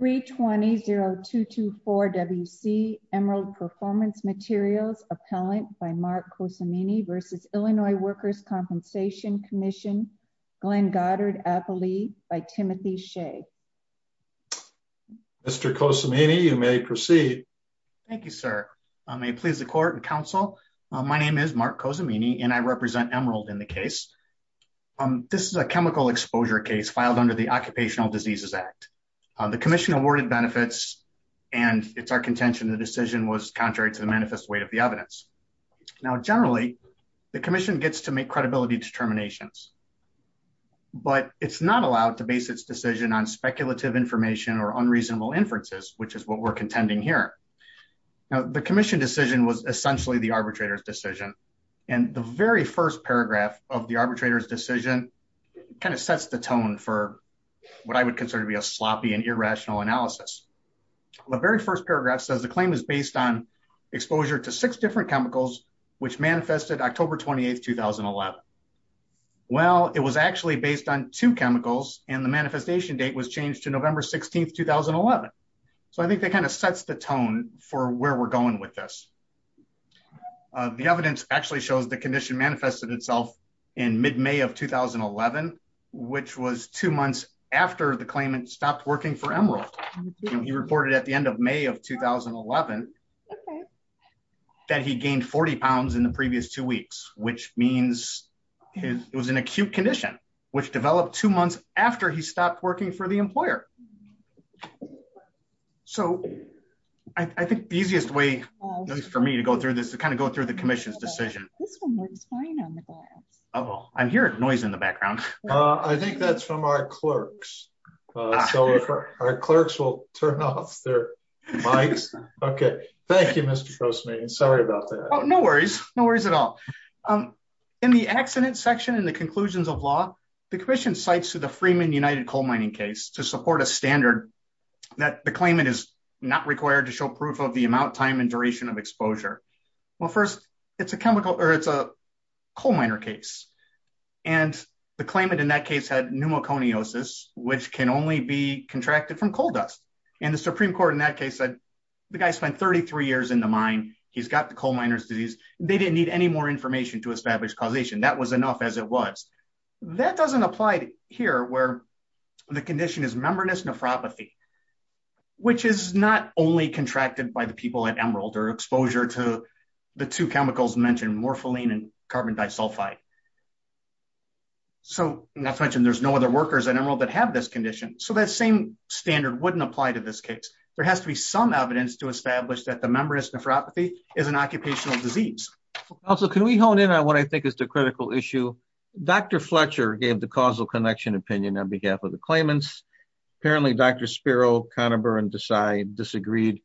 320-224-WC Emerald Performance Materials Appellant by Mark Cosimini v. Illinois Workers' Compensation Commission, Glenn Goddard-Apolli by Timothy Shea. Mr. Cosimini, you may proceed. Thank you, sir. May it please the court and counsel, my name is Mark Cosimini and I represent Emerald in the case. This is a chemical exposure case filed under the Occupational Diseases Act. The commission awarded benefits and it's our contention the decision was contrary to the manifest weight of the evidence. Now, generally, the commission gets to make credibility determinations, but it's not allowed to base its decision on speculative information or unreasonable inferences, which is what we're contending here. Now, the commission decision was essentially the arbitrator's decision and the very first paragraph of the arbitrator's decision kind of sets the tone for what I would consider to be a sloppy and irrational analysis. The very first paragraph says the claim is based on exposure to six different chemicals, which manifested October 28, 2011. Well, it was actually based on two chemicals and the manifestation date was changed to November 16, 2011. So I think that kind of sets the tone for where we're going with this. The evidence actually shows the condition manifested itself in mid-May of 2011, which was two months after the claimant stopped working for Emerald. He reported at the end of May of 2011 that he gained 40 pounds in the previous two weeks, which means it was an acute condition, which developed two months after he stopped working for the employer. So I think the easiest way for me to go through this to kind of go through the commission's decision. This one was fine on the glass. Oh, I'm hearing noise in the background. I think that's from our clerks. So our clerks will turn off their mics. Okay. Thank you, Mr. Grossman. Sorry about that. No worries. No worries at all. In the accident section in the conclusions of law, the commission cites to the Freeman United Coal Mining case to support a standard that the claimant is not required to show proof of the amount, time, and duration of exposure. Well, first it's a coal miner case. And the claimant in that case had pneumoconiosis, which can only be contracted from coal dust. And the Supreme Court in that case said, the guy spent 33 years in the mine. He's got the coal miner's disease. They didn't need any more information to establish causation. That was enough as it was. That doesn't apply here where the condition is membranous nephropathy, which is not only contracted by the people at Emerald or exposure to the two chemicals mentioned, morpholine and carbon disulfide. So not to mention there's no other workers at Emerald that have this condition. So that same standard wouldn't apply to this case. There has to be some evidence to establish that the membranous nephropathy is an occupational disease. Also, can we hone in on what I think is the claimants? Apparently, Dr. Spiro, Conaburn, Desai disagreed.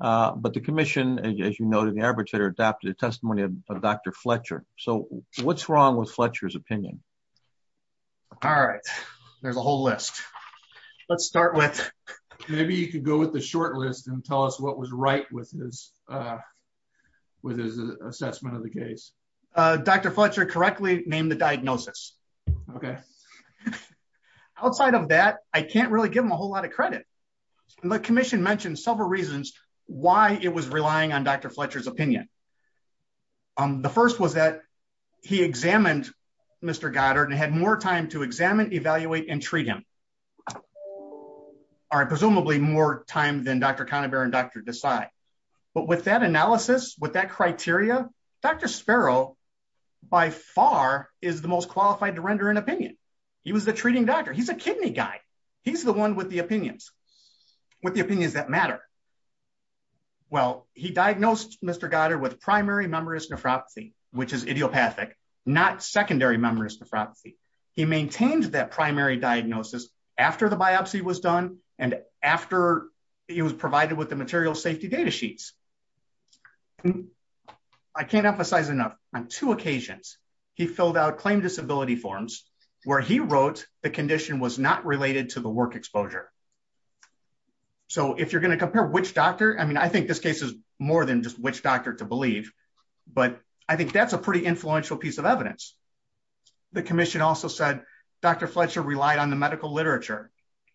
But the commission, as you noted, the arbitrator adopted a testimony of Dr. Fletcher. So what's wrong with Fletcher's opinion? All right. There's a whole list. Let's start with... Maybe you could go with the short list and tell us what was right with his assessment of the case. Dr. Fletcher correctly named the diagnosis. Okay. Outside of that, I can't really give him a whole lot of credit. The commission mentioned several reasons why it was relying on Dr. Fletcher's opinion. The first was that he examined Mr. Goddard and had more time to examine, evaluate, and treat him. Presumably more time than Dr. Conaburn and Dr. Desai. But with that analysis, with that criteria, Dr. Spiro, by far, is the most qualified to render an opinion. He was the treating doctor. He's a kidney guy. He's the one with the opinions, with the opinions that matter. Well, he diagnosed Mr. Goddard with primary membranous nephropathy, which is idiopathic, not secondary membranous nephropathy. He maintained that primary diagnosis after the biopsy was done and after it was provided with the material safety data sheets. I can't emphasize enough, on two occasions, he filled out claim disability forms where he wrote the condition was not related to the work exposure. So if you're going to compare which doctor, I mean, I think this case is more than just which doctor to believe, but I think that's a pretty influential piece of evidence. The commission also said Dr. Fletcher relied on the medical literature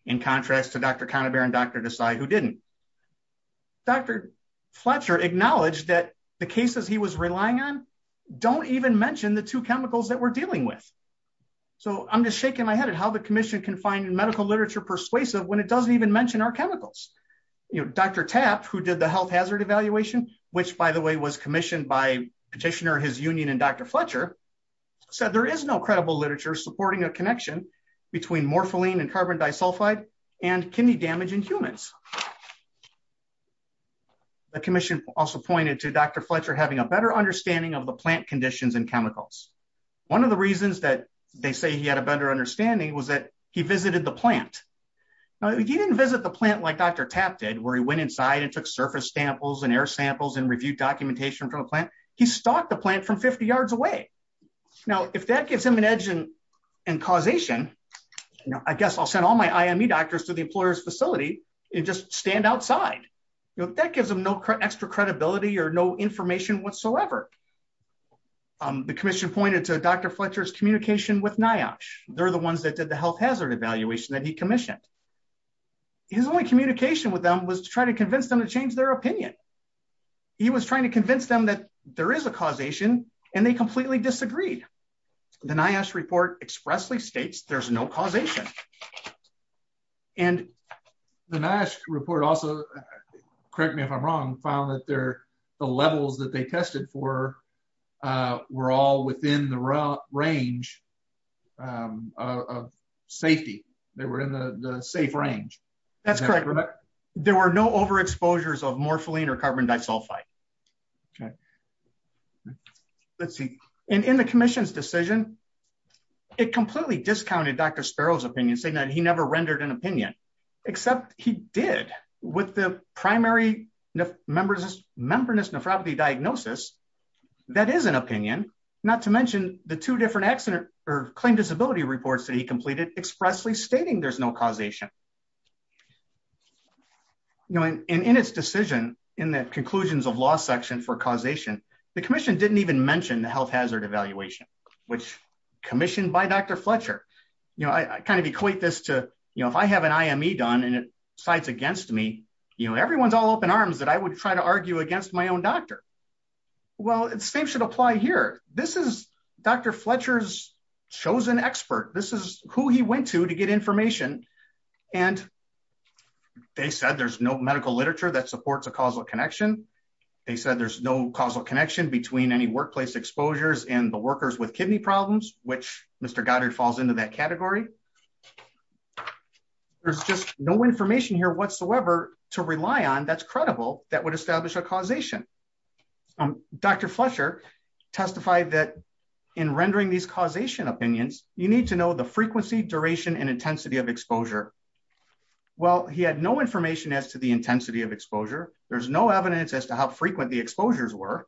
in contrast to Dr. Conaburn and Dr. Desai who didn't. Dr. Fletcher acknowledged that the cases he was relying on don't even mention the two chemicals that we're dealing with. So I'm just shaking my head at how the commission can find medical literature persuasive when it doesn't even mention our chemicals. Dr. Tapp, who did the health hazard evaluation, which by the way, was commissioned by petitioner, his union, and Dr. Fletcher, said there is no credible literature supporting a connection between morphine and carbon disulfide and kidney damage in humans. The commission also pointed to Dr. Fletcher having a better understanding of the plant conditions and chemicals. One of the reasons that they say he had a better understanding was that he visited the plant. Now, he didn't visit the plant like Dr. Tapp did, where he went inside and took surface samples and air samples and reviewed documentation from a plant. He stalked the plant from 50 yards away. Now, if that gives him an edge in causation, I guess I'll send all my IME doctors to the employer's facility and just stand outside. That gives him no extra credibility or no information whatsoever. The commission pointed to Dr. Fletcher's communication with NIOSH. They're the ones that did the health hazard evaluation that he commissioned. His only communication with them was to try to convince them to change their opinion. He was trying to convince them that there is a causation, and they completely disagreed. The NIOSH report expressly states there's no causation. The NIOSH report also, correct me if I'm wrong, found that the levels that they tested for were all within the range of safety. They were in the safe range. That's correct. There were no overexposures of morphine or carbon disulfide. Let's see. In the commission's decision, it completely discounted Dr. Sparrow's opinion, saying that he never rendered an opinion, except he did with the primary membranous nephropathy diagnosis. That is an opinion, not to mention the two different claim disability reports that he completed expressly stating there's no causation. In its decision, in the conclusions of law section for causation, the commission didn't even mention the health hazard evaluation, which commissioned by Dr. Fletcher. I kind of equate this to if I have an IME done and it sides against me, everyone's all open arms that I would try to argue against my own doctor. Well, the same should apply here. This is Dr. Fletcher's chosen expert. This is who he went to to get information. They said there's no medical literature that supports causal connection. They said there's no causal connection between any workplace exposures and the workers with kidney problems, which Mr. Goddard falls into that category. There's just no information here whatsoever to rely on that's credible that would establish a causation. Dr. Fletcher testified that in rendering these causation opinions, you need to know the frequency, duration, and intensity of exposure. Well, he had no information as to the intensity of exposure. There's no evidence as to how frequent the exposures were.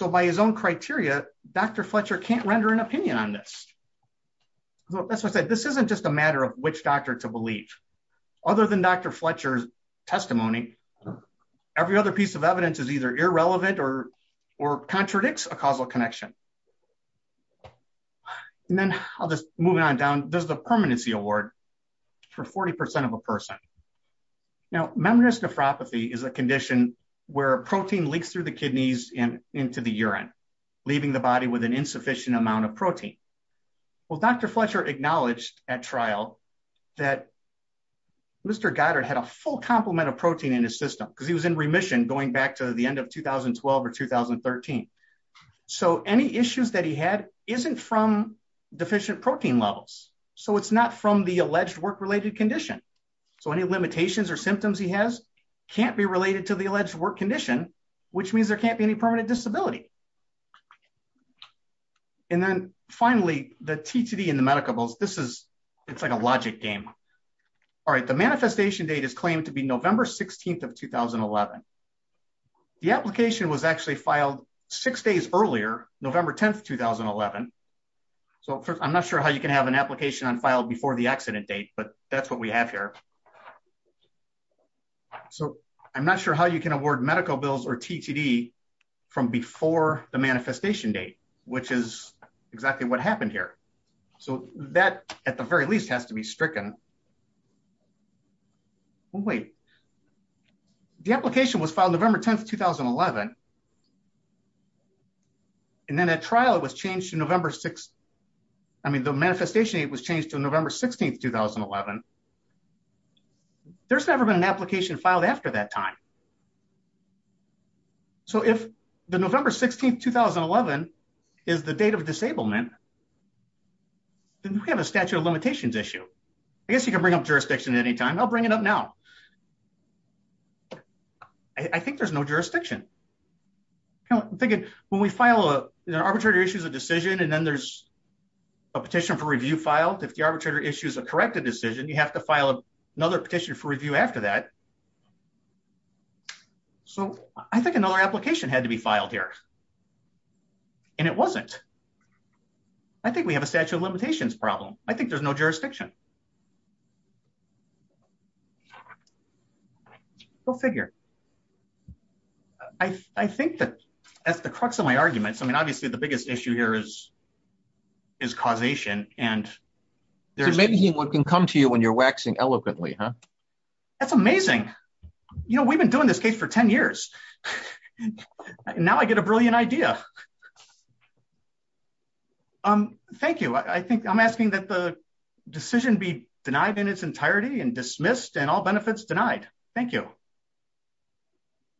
By his own criteria, Dr. Fletcher can't render an opinion on this. That's why I said this isn't just a matter of which doctor to believe. Other than Dr. Fletcher's testimony, every other piece of evidence is either irrelevant or contradicts a causal connection. Then I'll just move on down. There's the permanency award for 40% of a person. Now, membranous nephropathy is a condition where protein leaks through the kidneys and into the urine, leaving the body with an insufficient amount of protein. Well, Dr. Fletcher acknowledged at trial that Mr. Goddard had a full complement of protein in his system because he was in remission going back to the end of 2012 or 2013. Any issues that he had isn't from deficient protein levels. It's not from the alleged work-related condition. Any limitations or symptoms he has can't be related to the alleged work condition, which means there can't be any permanent disability. Then finally, the TTD and the medicables, it's like a logic game. All right, the manifestation date is claimed to be November 16th of 2011. The application was actually filed six days earlier, November 10th, 2011. So, I'm not sure how you can have an application unfiled before the accident date, but that's what we have here. So, I'm not sure how you can award medical bills or TTD from before the manifestation date, which is exactly what happened here. So, that, at the very least, has to be stricken. Well, wait. The application was filed November 10th, 2011, and then at trial, it was changed to November 6th. I mean, the manifestation date was changed to November 16th, 2011. There's never been an application filed after that time. So, if the November 16th, 2011 is the date of disablement, then we have a statute of limitations issue. I guess you can bring up jurisdiction at any time. I'll bring it up now. I think there's no jurisdiction. I'm thinking, when we file an arbitrator issues a decision, and then there's a petition for review filed, if the arbitrator issues a corrected decision, you have to file another petition for review after that. So, I think another application had to be filed here, and it wasn't. I think we have a statute of limitations problem. I think there's no jurisdiction. Go figure. I think that that's the crux of my arguments. I mean, obviously, the biggest issue here is causation, and there's... Maybe what can come to you when you're waxing eloquently, huh? That's amazing. We've been doing this case for 10 years, and now I get a brilliant idea. Thank you. I think I'm asking that the decision be denied in its entirety and dismissed, and all benefits denied. Thank you.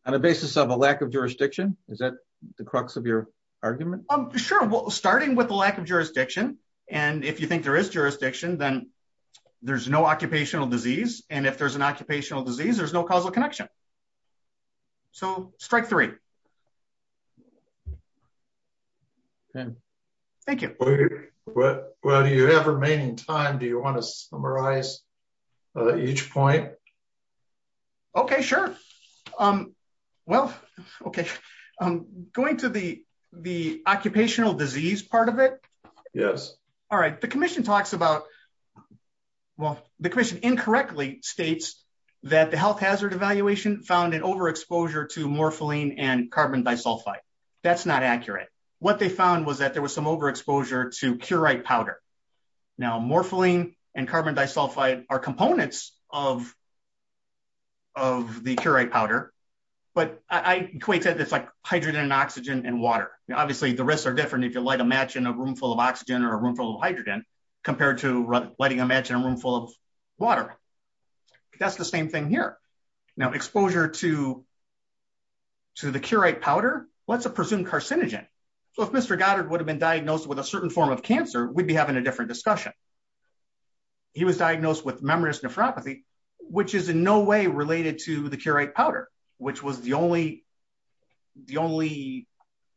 On a basis of a lack of jurisdiction? Is that the crux of your argument? Sure. Starting with the lack of jurisdiction, and if you think there is jurisdiction, then there's no occupational disease, and if there's an occupational disease, there's no causal connection. So, strike three. Okay. Thank you. While you have remaining time, do you want to summarize each point? Okay, sure. Well, okay. Going to the occupational disease part of it. Yes. All right. The commission talks about... Well, the commission incorrectly states that the health hazard evaluation found an overexposure to morpholine and carbon disulfide. That's not accurate. What they found was that there was some overexposure to curate powder. Now, morpholine and carbon disulfide are components of the curate powder, but I equate that to hydrogen, oxygen, and water. Obviously, the risks are different if you light a match in a room full of oxygen or a room full of hydrogen compared to lighting a match in a room full of water. That's the same thing here. Now, exposure to the curate powder, let's presume carcinogen. So, if Mr. Goddard would have been diagnosed with a certain form of cancer, we'd be having a different discussion. He was diagnosed with membranous nephropathy, which is in no way related to the curate powder, which was the only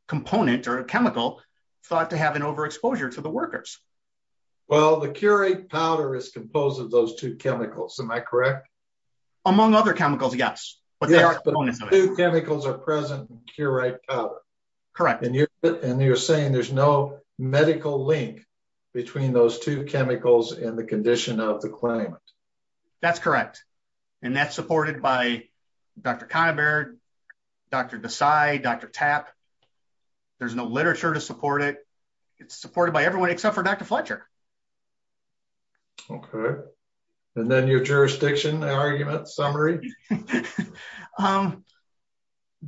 component or chemical thought to have an overexposure to the workers. Well, the curate powder is composed of those two chemicals. Am I correct? Among other chemicals, yes. Yes, but the two chemicals are present in curate powder. Correct. And you're saying there's no medical link between those two chemicals and the condition of the patient? There's no literature to support it. It's supported by everyone except for Dr. Fletcher. Okay. And then your jurisdiction argument summary?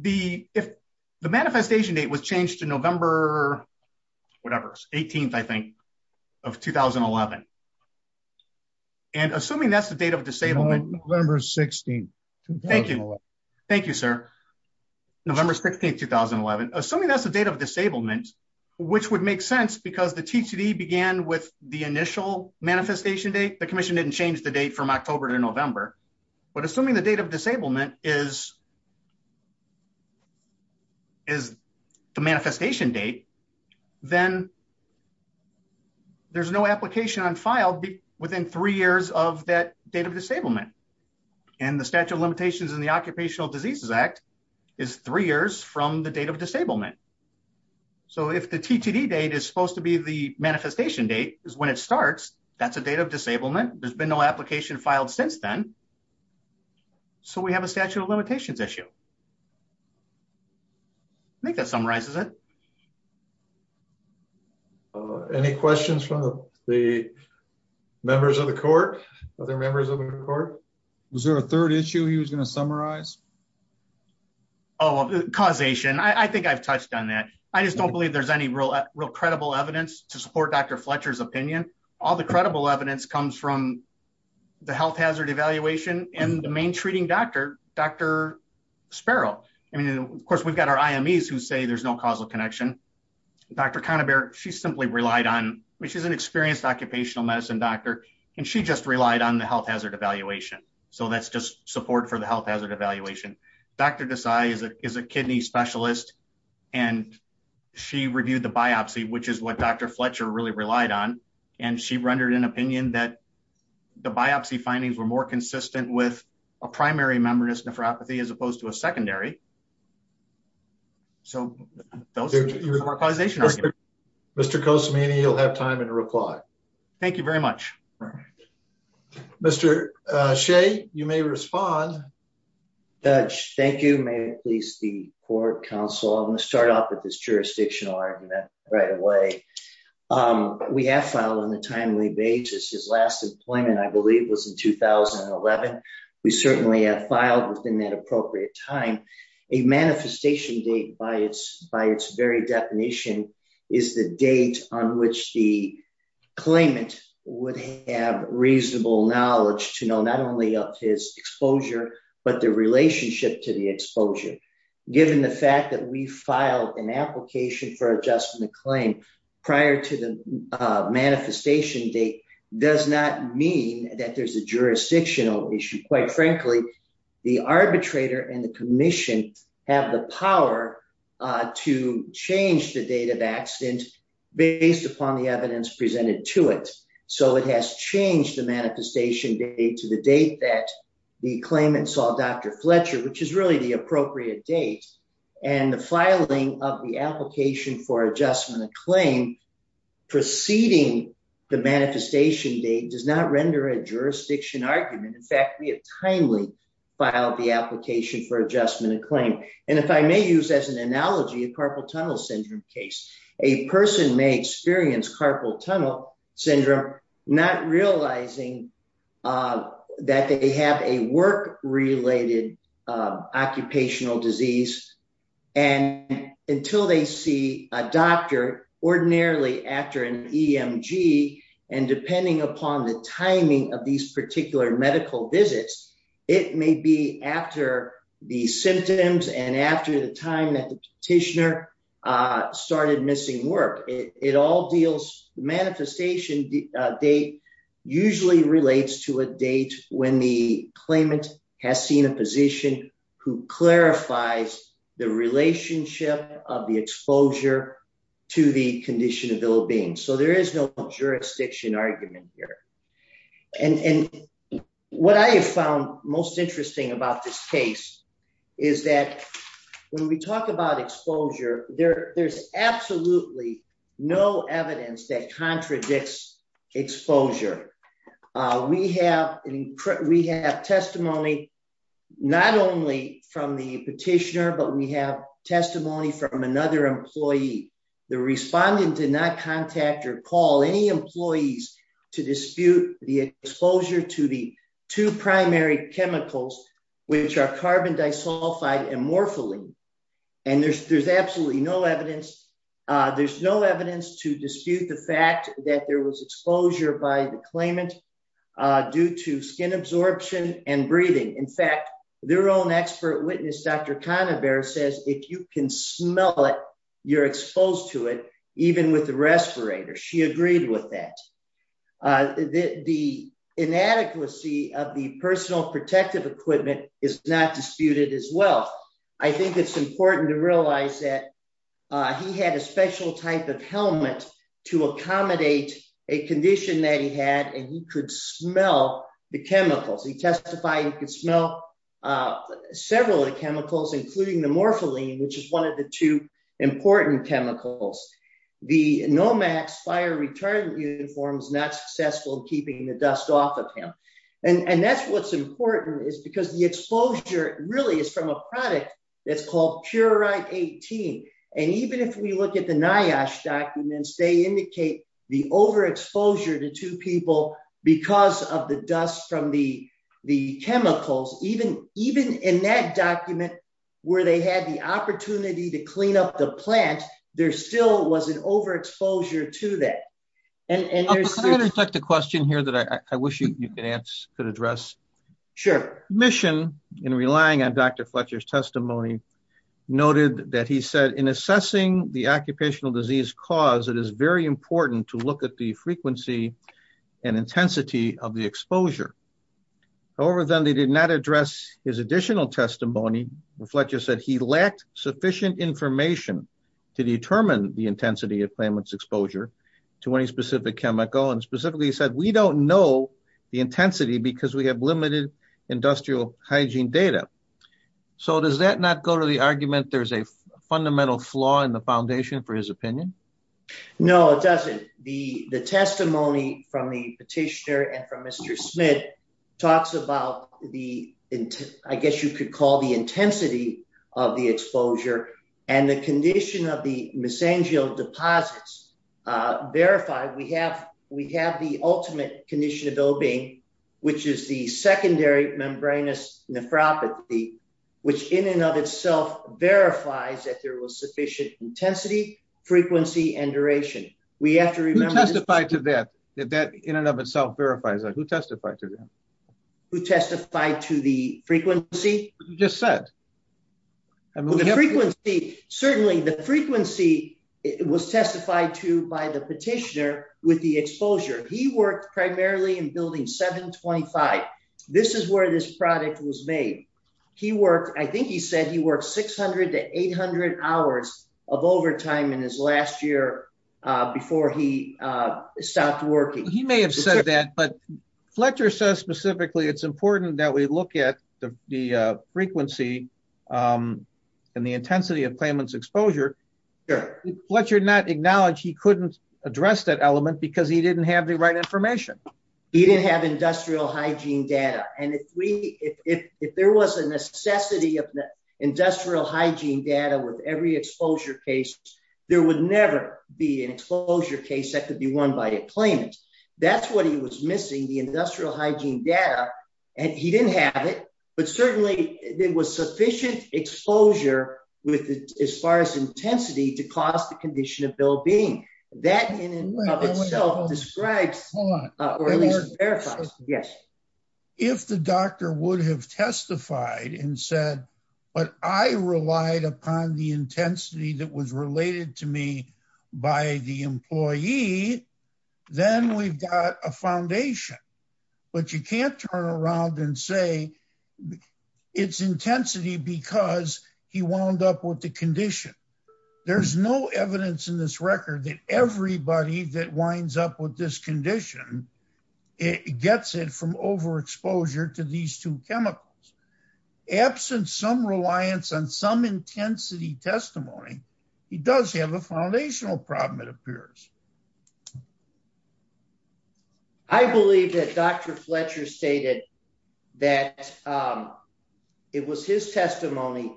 The manifestation date was changed to November 18th, I think, of 2011. And assuming that's the date of disablement... November 16th, 2011. Thank you, sir. November 16th, 2011. Assuming that's the date of disablement, which would make sense because the TCD began with the initial manifestation date. The commission didn't change the date from October to November. But assuming the date of disablement is the manifestation date, then there's no application on file within three years of that date of disablement. The statute of limitations in the Occupational Diseases Act is three years from the date of disablement. So if the TCD date is supposed to be the manifestation date is when it starts, that's a date of disablement. There's been no application filed since then. So we have a statute of limitations issue. I think that summarizes it. Any questions from the members of the court? Other members of the court? Was there a third issue he was going to summarize? Oh, causation. I think I've touched on that. I just don't believe there's any real credible evidence to support Dr. Fletcher's opinion. All the credible evidence comes from the health hazard evaluation and the main treating doctor, Dr. Sparrow. I mean, of course, we've got our IMEs who say there's no causal connection. Dr. Canterbury, she simply relied on... She's an occupational medicine doctor and she just relied on the health hazard evaluation. So that's just support for the health hazard evaluation. Dr. Desai is a kidney specialist and she reviewed the biopsy, which is what Dr. Fletcher really relied on. And she rendered an opinion that the biopsy findings were more consistent with a primary membranous nephropathy as opposed to a secondary. So those are causation arguments. Mr. Kosemany, you'll have time to reply. Thank you very much. Mr. Shea, you may respond. Judge, thank you. May it please the court, counsel. I'm going to start off with this jurisdictional argument right away. We have filed on a timely basis. His last employment, I believe, was in 2011. We certainly have filed within that appropriate time. A manifestation date by its very definition is the date on which the claimant would have reasonable knowledge to know not only of his exposure, but the relationship to the exposure. Given the fact that we filed an that there's a jurisdictional issue, quite frankly, the arbitrator and the commission have the power to change the date of accident based upon the evidence presented to it. So it has changed the manifestation date to the date that the claimant saw Dr. Fletcher, which is really the appropriate date. And the filing of the application for adjustment of claim preceding the manifestation date does not render a jurisdiction argument. In fact, we have timely filed the application for adjustment of claim. And if I may use as an analogy, a carpal tunnel syndrome case, a person may experience carpal tunnel syndrome, not realizing that they have a work related occupational disease. And until they see a doctor ordinarily after an EMG, and depending upon the timing of these particular medical visits, it may be after the symptoms and after the time that the petitioner started missing work. It all deals manifestation date usually relates to a date when the claimant has seen a position who clarifies the relationship of the exposure to the condition of ill-being. So there is no jurisdiction argument here. And what I have found most interesting about this case is that when we talk about exposure, there's absolutely no evidence that contradicts exposure. We have testimony, not only from the petitioner, but we have testimony from another employee. The respondent did not contact or call any employees to dispute the exposure to the two primary chemicals, which are carbon disulfide and morphine. And there's absolutely no evidence. There's no evidence to dispute the fact that there was exposure by the claimant due to skin absorption and breathing. In fact, their own expert witness, Dr. Conover says, if you can smell it, you're exposed to it, even with the respirator. She agreed with that. The inadequacy of the protective equipment is not disputed as well. I think it's important to realize that he had a special type of helmet to accommodate a condition that he had, and he could smell the chemicals. He testified, he could smell several of the chemicals, including the morphine, which is one of the two important chemicals. The NOMAX fire retardant uniforms not successful keeping the dust off of him. And that's what's important is because the exposure really is from a product that's called PureRite 18. And even if we look at the NIOSH documents, they indicate the overexposure to two people because of the dust from the chemicals, even in that document where they had the opportunity to clean up the plant, there still was an overexposure to that. Can I reflect the question here that I wish you could answer, could address? Sure. Mission, in relying on Dr. Fletcher's testimony, noted that he said, in assessing the occupational disease cause, it is very important to look at the frequency and intensity of the exposure. However, then they did not address his additional testimony. Fletcher said he lacked sufficient information to determine the intensity of claimant's exposure to any specific chemical. And specifically he said, we don't know the intensity because we have limited industrial hygiene data. So does that not go to the argument there's a fundamental flaw in the foundation for his opinion? No, it doesn't. The testimony from the petitioner and from Mr. Smith talks about the, I guess you could call the intensity of the exposure and the condition of the mesangial deposits verified. We have the ultimate condition of well-being, which is the secondary membranous nephropathy, which in and of itself verifies that there was sufficient intensity, frequency, and duration. We have to remember- Who testified to that, that in and of itself verifies that? Who testified to that? Who testified to the frequency? You just said. Certainly the frequency was testified to by the petitioner with the exposure. He worked primarily in building 725. This is where this product was made. He worked, I think he said he worked 600 to 800 hours of overtime in his last year before he stopped working. He may have said that, but Fletcher says specifically it's important that we look at the frequency and the intensity of claimant's exposure. Fletcher did not acknowledge he couldn't address that element because he didn't have the right information. He didn't have industrial hygiene data. And if there was a necessity of the industrial hygiene data with every exposure case, there would never be an exposure case that could be won by a claimant. That's what he was missing, the industrial hygiene data, and he didn't have it, but certainly there was sufficient exposure with as far as intensity to cause the condition of well-being. That in and of itself describes or at least verifies. If the doctor would have testified and said, but I relied upon the intensity that was related to me by the employee, then we've got a foundation. But you can't turn around and say it's intensity because he wound up with the condition. There's no evidence in this record that everybody that winds up with this condition gets it from overexposure to these two chemicals. Absent some reliance on some intensity testimony, he does have a foundational problem, it appears. I believe that Dr. Fletcher stated that it was his testimony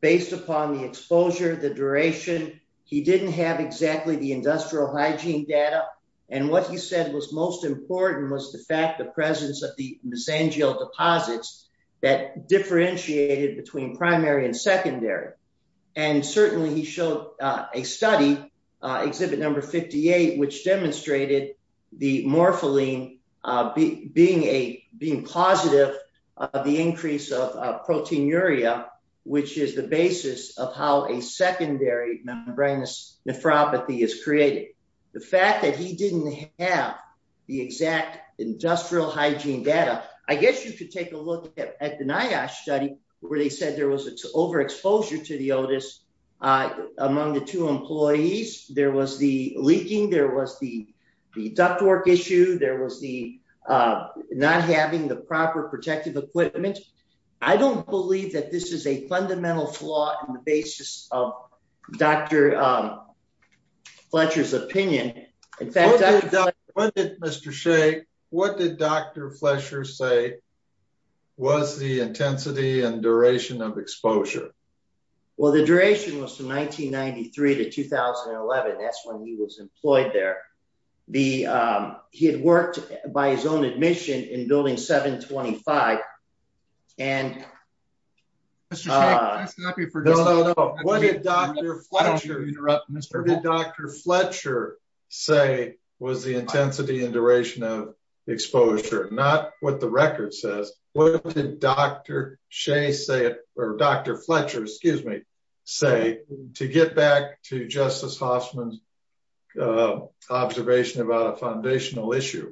based upon the exposure, the duration. He didn't have exactly the industrial hygiene data. And what he said was most important was the fact the presence of the mesangial deposits that differentiated between primary and secondary. And certainly he showed a study, exhibit number 58, which demonstrated the morpholine being positive of the increase of proteinuria, which is the basis of how secondary membranous nephropathy is created. The fact that he didn't have the exact industrial hygiene data, I guess you could take a look at the NIOSH study where they said there was overexposure to the Otis among the two employees. There was the leaking, there was the ductwork issue, there was the not having the proper protective equipment. I don't believe that this is a fundamental flaw in the basis of Dr. Fletcher's opinion. Mr. Shea, what did Dr. Fletcher say was the intensity and duration of exposure? Well, the duration was from 1993 to 2011. That's when he was employed there. The, he had worked by his own admission in building 725. And what did Dr. Fletcher say was the intensity and duration of exposure? Not what the record says. What did Dr. Shea say, or Dr. Fletcher, excuse me, say to get back to Justice Hoffman's observation about a foundational issue?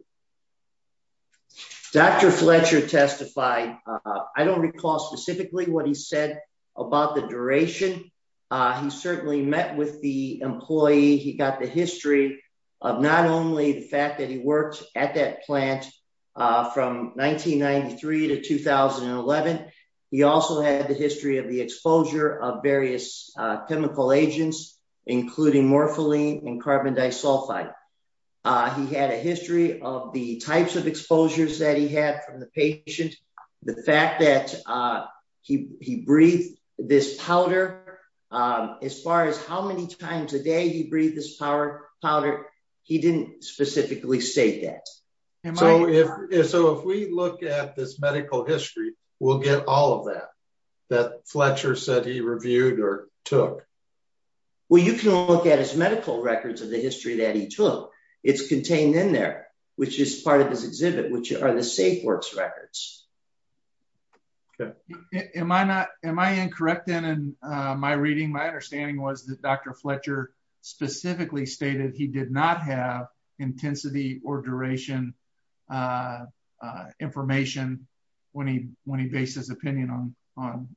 Dr. Fletcher testified. I don't recall specifically what he said about the duration. He certainly met with the employee. He got the history of not only the fact that he worked at that plant from 1993 to 2011, he also had the history of the he had a history of the types of exposures that he had from the patient, the fact that he breathed this powder. As far as how many times a day he breathed this powder, he didn't specifically state that. So if we look at this medical history, we'll get all of that, that Fletcher said he reviewed or took. Well, you can look at his medical records of the history that he took. It's contained in there, which is part of his exhibit, which are the SafeWorks records. Am I not, am I incorrect in my reading? My understanding was that Dr. Fletcher specifically stated he did not have intensity or duration information when he based his opinion on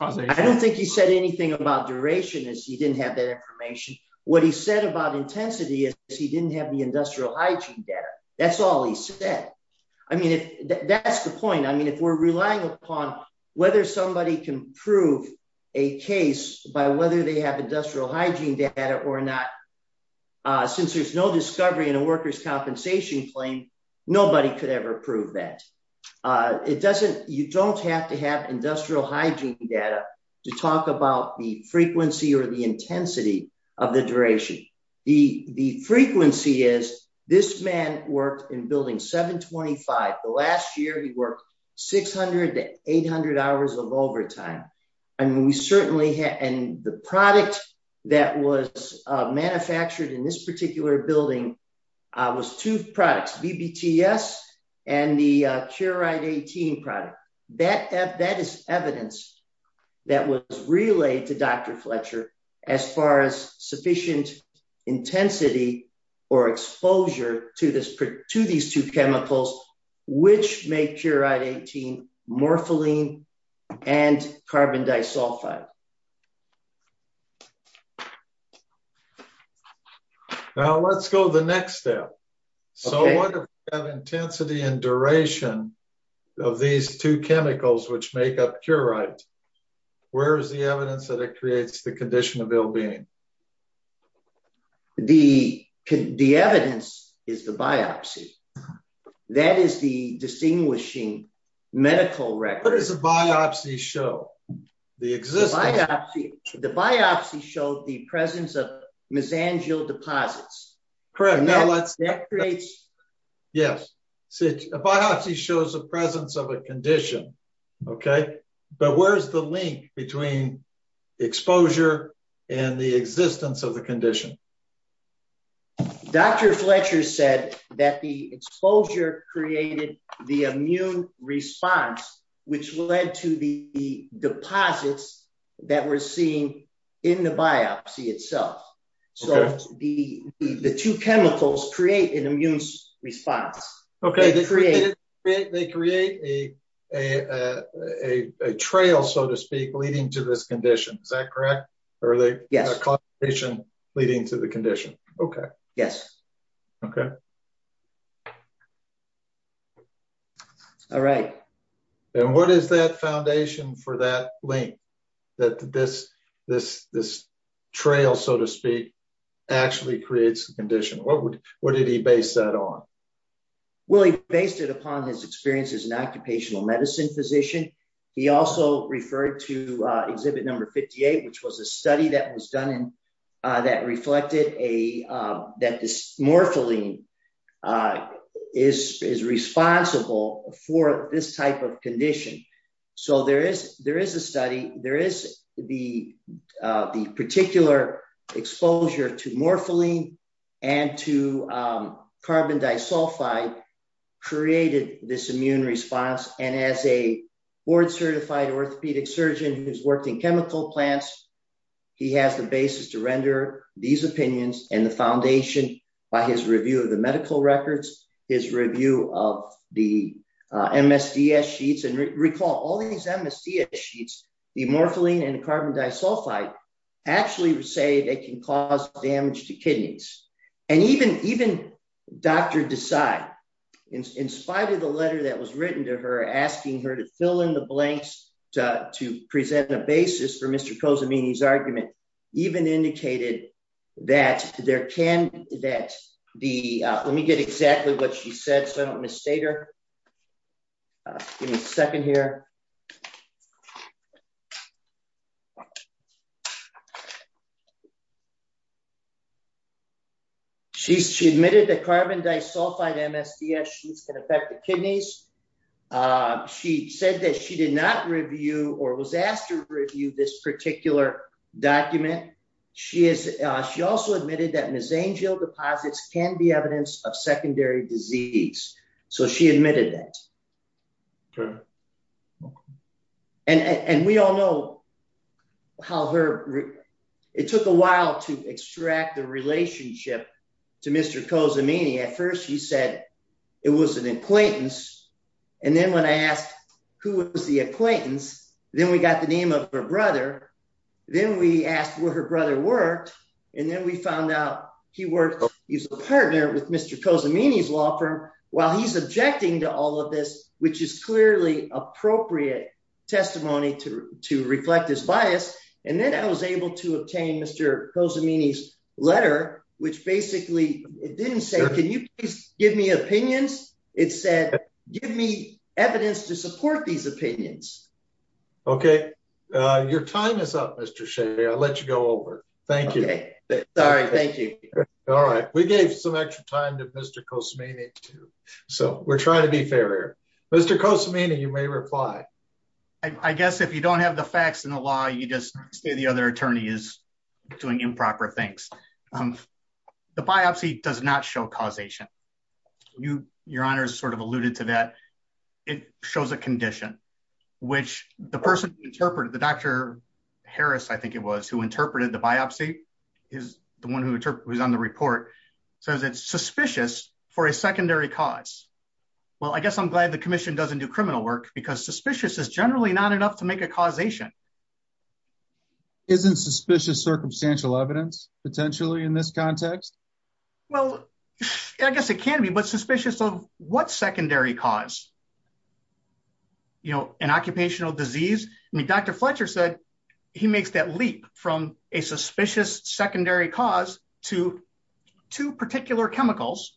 causation. I don't think he said anything about duration. He didn't have that information. What he said about intensity is he didn't have the industrial hygiene data. That's all he said. I mean, that's the point. I mean, if we're relying upon whether somebody can prove a case by whether they have industrial hygiene data or not, since there's no discovery in a worker's compensation claim, nobody could ever prove that. It doesn't, you don't have to have industrial hygiene data to talk about the frequency or the intensity of the duration. The frequency is this man worked in building 725. The last year he worked 600 to 800 hours of overtime. And we certainly had, and the product that was manufactured in this particular building was two products, BBTS and the Curide-18 product. That is evidence that was relayed to Dr. Fletcher as far as sufficient intensity or exposure to these two chemicals, which make Curide-18 morpholine and carbon disulfide. Now let's go to the next step. So what intensity and duration of these two chemicals, which make up Curide-18, where's the evidence that it creates the condition of ill-being? The evidence is the biopsy. That is the distinguishing medical record. What does the biopsy show? The biopsy showed the presence of mesangial deposits. A biopsy shows the presence of a condition, but where's the link between exposure and the existence of the condition? Dr. Fletcher said that the exposure created the immune response, which led to the deposits that we're seeing in the biopsy itself. So the two chemicals create an immune response. They create a trail, so to speak, leading to this condition. Is that correct? Or are they a combination leading to the condition? Okay. Yes. Okay. All right. And what is that foundation for that link that this trail, so to speak, actually creates the condition? What did he base that on? Well, he based it upon his experience as an occupational medicine physician. He also referred to exhibit number 58, which was a study that was done that reflected that this morpholine is responsible for this type of condition. So there is a study. There is the particular exposure to morpholine and to carbon disulfide created this immune response. And as a board certified orthopedic surgeon who's worked in the past, he has the basis to render these opinions and the foundation by his review of the medical records, his review of the MSDS sheets and recall all these MSDS sheets, the morpholine and carbon disulfide actually say they can cause damage to kidneys. And even Dr. Desai, in spite of the letter that was written to her, asking her to fill in the blanks to present a basis for Mr. argument, even indicated that there can, that the, let me get exactly what she said. So I don't misstate her. Give me a second here. She admitted that carbon disulfide MSDS sheets can affect the document. She also admitted that Ms. Angel deposits can be evidence of secondary disease. So she admitted that. And we all know how her, it took a while to extract the relationship to Mr. Cozzamini. At first he said it was an acquaintance. And then when I asked who was the acquaintance, then we got the name of her brother. Then we asked where her brother worked. And then we found out he worked, he was a partner with Mr. Cozzamini's law firm while he's objecting to all of this, which is clearly appropriate testimony to, to reflect his bias. And then I was able to obtain Mr. Cozzamini's letter, which basically didn't say, can you please give me opinions? It said, give me evidence to support these opinions. Okay. Uh, your time is up, Mr. Shea. I'll let you go over. Thank you. Sorry. Thank you. All right. We gave some extra time to Mr. Cozzamini too. So we're trying to be fair here. Mr. Cozzamini, you may reply. I guess if you don't have the facts and the law, you just say the other attorney is doing improper things. Um, the biopsy does not show causation. You, your honors sort of alluded to that. It shows a condition which the person interpreted the Dr. Harris. I think it was who interpreted the biopsy is the one who was on the report. So is it suspicious for a secondary cause? Well, I guess I'm glad the commission doesn't do criminal work because suspicious is generally not to make a causation. Isn't suspicious circumstantial evidence potentially in this context? Well, I guess it can be, but suspicious of what secondary cause, you know, an occupational disease. I mean, Dr. Fletcher said he makes that leap from a suspicious secondary cause to two particular chemicals,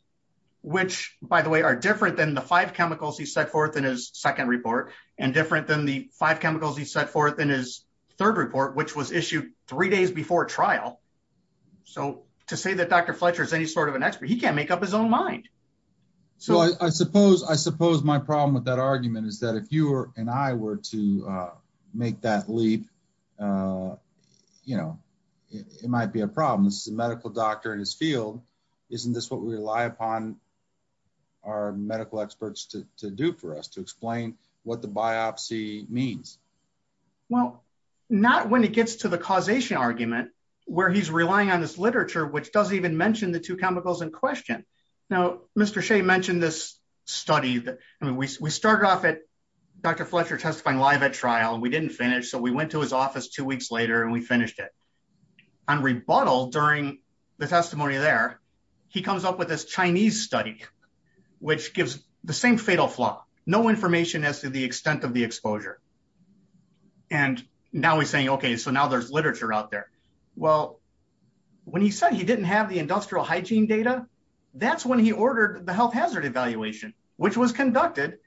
which by the way, are different than the five chemicals he set forth in his second report and different than the five chemicals he set forth in his third report, which was issued three days before trial. So to say that Dr. Fletcher is any sort of an expert, he can't make up his own mind. So I suppose, I suppose my problem with that argument is that if you were, and I were to make that leap, uh, you know, it might be a problem. This is a medical doctor in his field. Isn't this what we rely upon our medical experts to do for us to explain what the biopsy means? Well, not when it gets to the causation argument where he's relying on this literature, which doesn't even mention the two chemicals in question. Now, Mr. Shea mentioned this study that, I mean, we, we started off at Dr. Fletcher testifying live at trial and we didn't finish. So went to his office two weeks later and we finished it. On rebuttal during the testimony there, he comes up with this Chinese study, which gives the same fatal flaw, no information as to the extent of the exposure. And now he's saying, okay, so now there's literature out there. Well, when he said he didn't have the industrial hygiene data, that's when he ordered the health hazard evaluation, which was conducted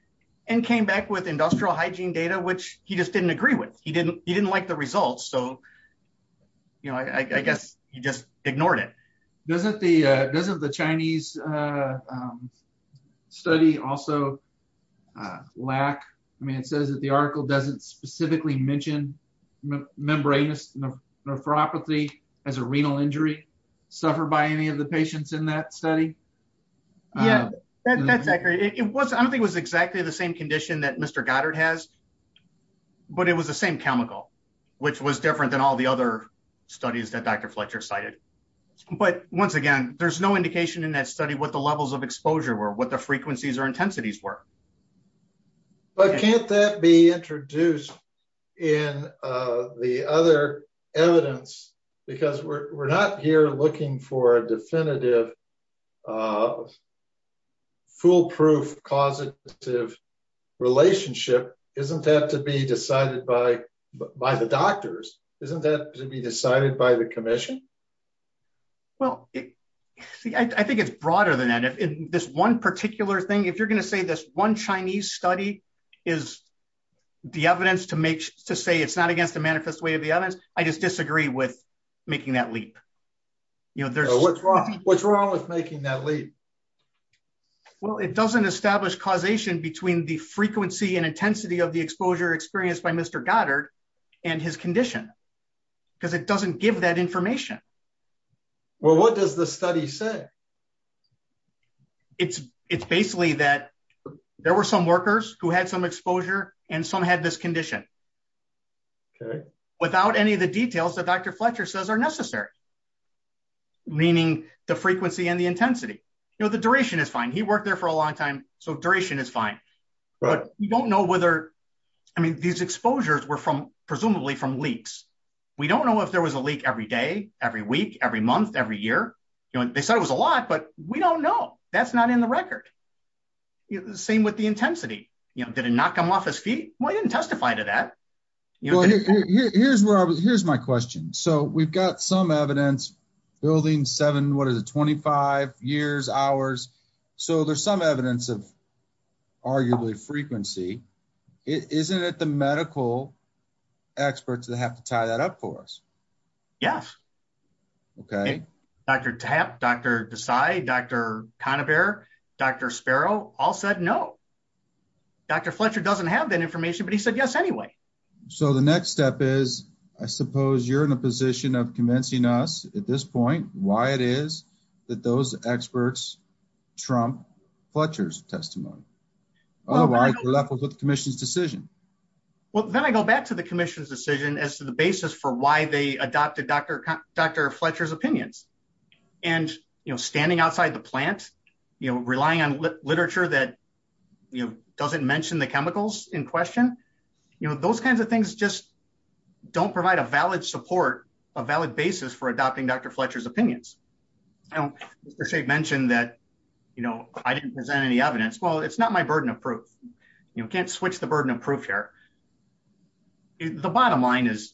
and came back with industrial hygiene data, which he just didn't agree with. He didn't, he didn't like the results. So, you know, I, I guess he just ignored it. Doesn't the, uh, doesn't the Chinese, uh, um, study also, uh, lack, I mean, it says that the article doesn't specifically mention membranous nephropathy as a renal injury suffered by any of the patients in that study. Yeah, that's accurate. It was, I don't think it was exactly the same condition that Mr. Goddard has, but it was the same chemical, which was different than all the other studies that Dr. Fletcher cited. But once again, there's no indication in that study what the levels of exposure were, what the frequencies or intensities were. But can't that be introduced in, uh, the other evidence because we're not here looking for a foolproof causative relationship, isn't that to be decided by, by the doctors, isn't that to be decided by the commission? Well, I think it's broader than that. If this one particular thing, if you're going to say this one Chinese study is the evidence to make, to say it's not against the manifest way of the evidence, I just disagree with making that leap. You know, what's wrong, what's wrong with making that leap? Well, it doesn't establish causation between the frequency and intensity of the exposure experienced by Mr. Goddard and his condition because it doesn't give that information. Well, what does the study say? It's, it's basically that there were some workers who had some exposure and some had this condition. Okay. Without any of the details that Dr. Fletcher says are necessary, meaning the frequency and the intensity, you know, the duration is fine. He worked there for a long time. So duration is fine, but you don't know whether, I mean, these exposures were from presumably from leaks. We don't know if there was a leak every day, every week, every month, every year, you know, they said it was a lot, but we don't know. That's not in the record. The same with the intensity, you know, did it not come off his got some evidence building seven, what is it? 25 years hours. So there's some evidence of arguably frequency. Isn't it the medical experts that have to tie that up for us? Yes. Okay. Dr. Tap, Dr. Decide, Dr. Conabare, Dr. Sparrow all said, no, Dr. Fletcher doesn't have that information, but he said yes anyway. So the next step is, I suppose you're in a position of convincing us at this point, why it is that those experts Trump Fletcher's testimony, otherwise left with the commission's decision. Well, then I go back to the commission's decision as to the basis for why they adopted Dr. Fletcher's opinions and, you know, standing outside the plant, you know, relying on literature that, you know, doesn't mention the chemicals in question, you know, those kinds of things just don't provide a valid support, a valid basis for adopting Dr. Fletcher's opinions. I don't, Mr. Sheik mentioned that, you know, I didn't present any evidence. Well, it's not my burden of proof. You can't switch the burden of proof here. The bottom line is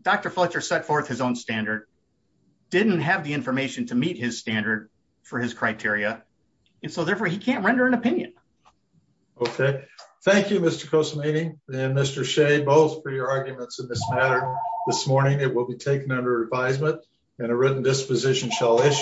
Dr. Fletcher set forth his own standard, didn't have the information to meet his standard for his criteria. And so therefore he can't render an opinion. Okay. Thank you, Mr. Kosolanyi and Mr. Sheik both for your arguments in this matter. This morning, it will be taken under advisement and a written disposition shall issue.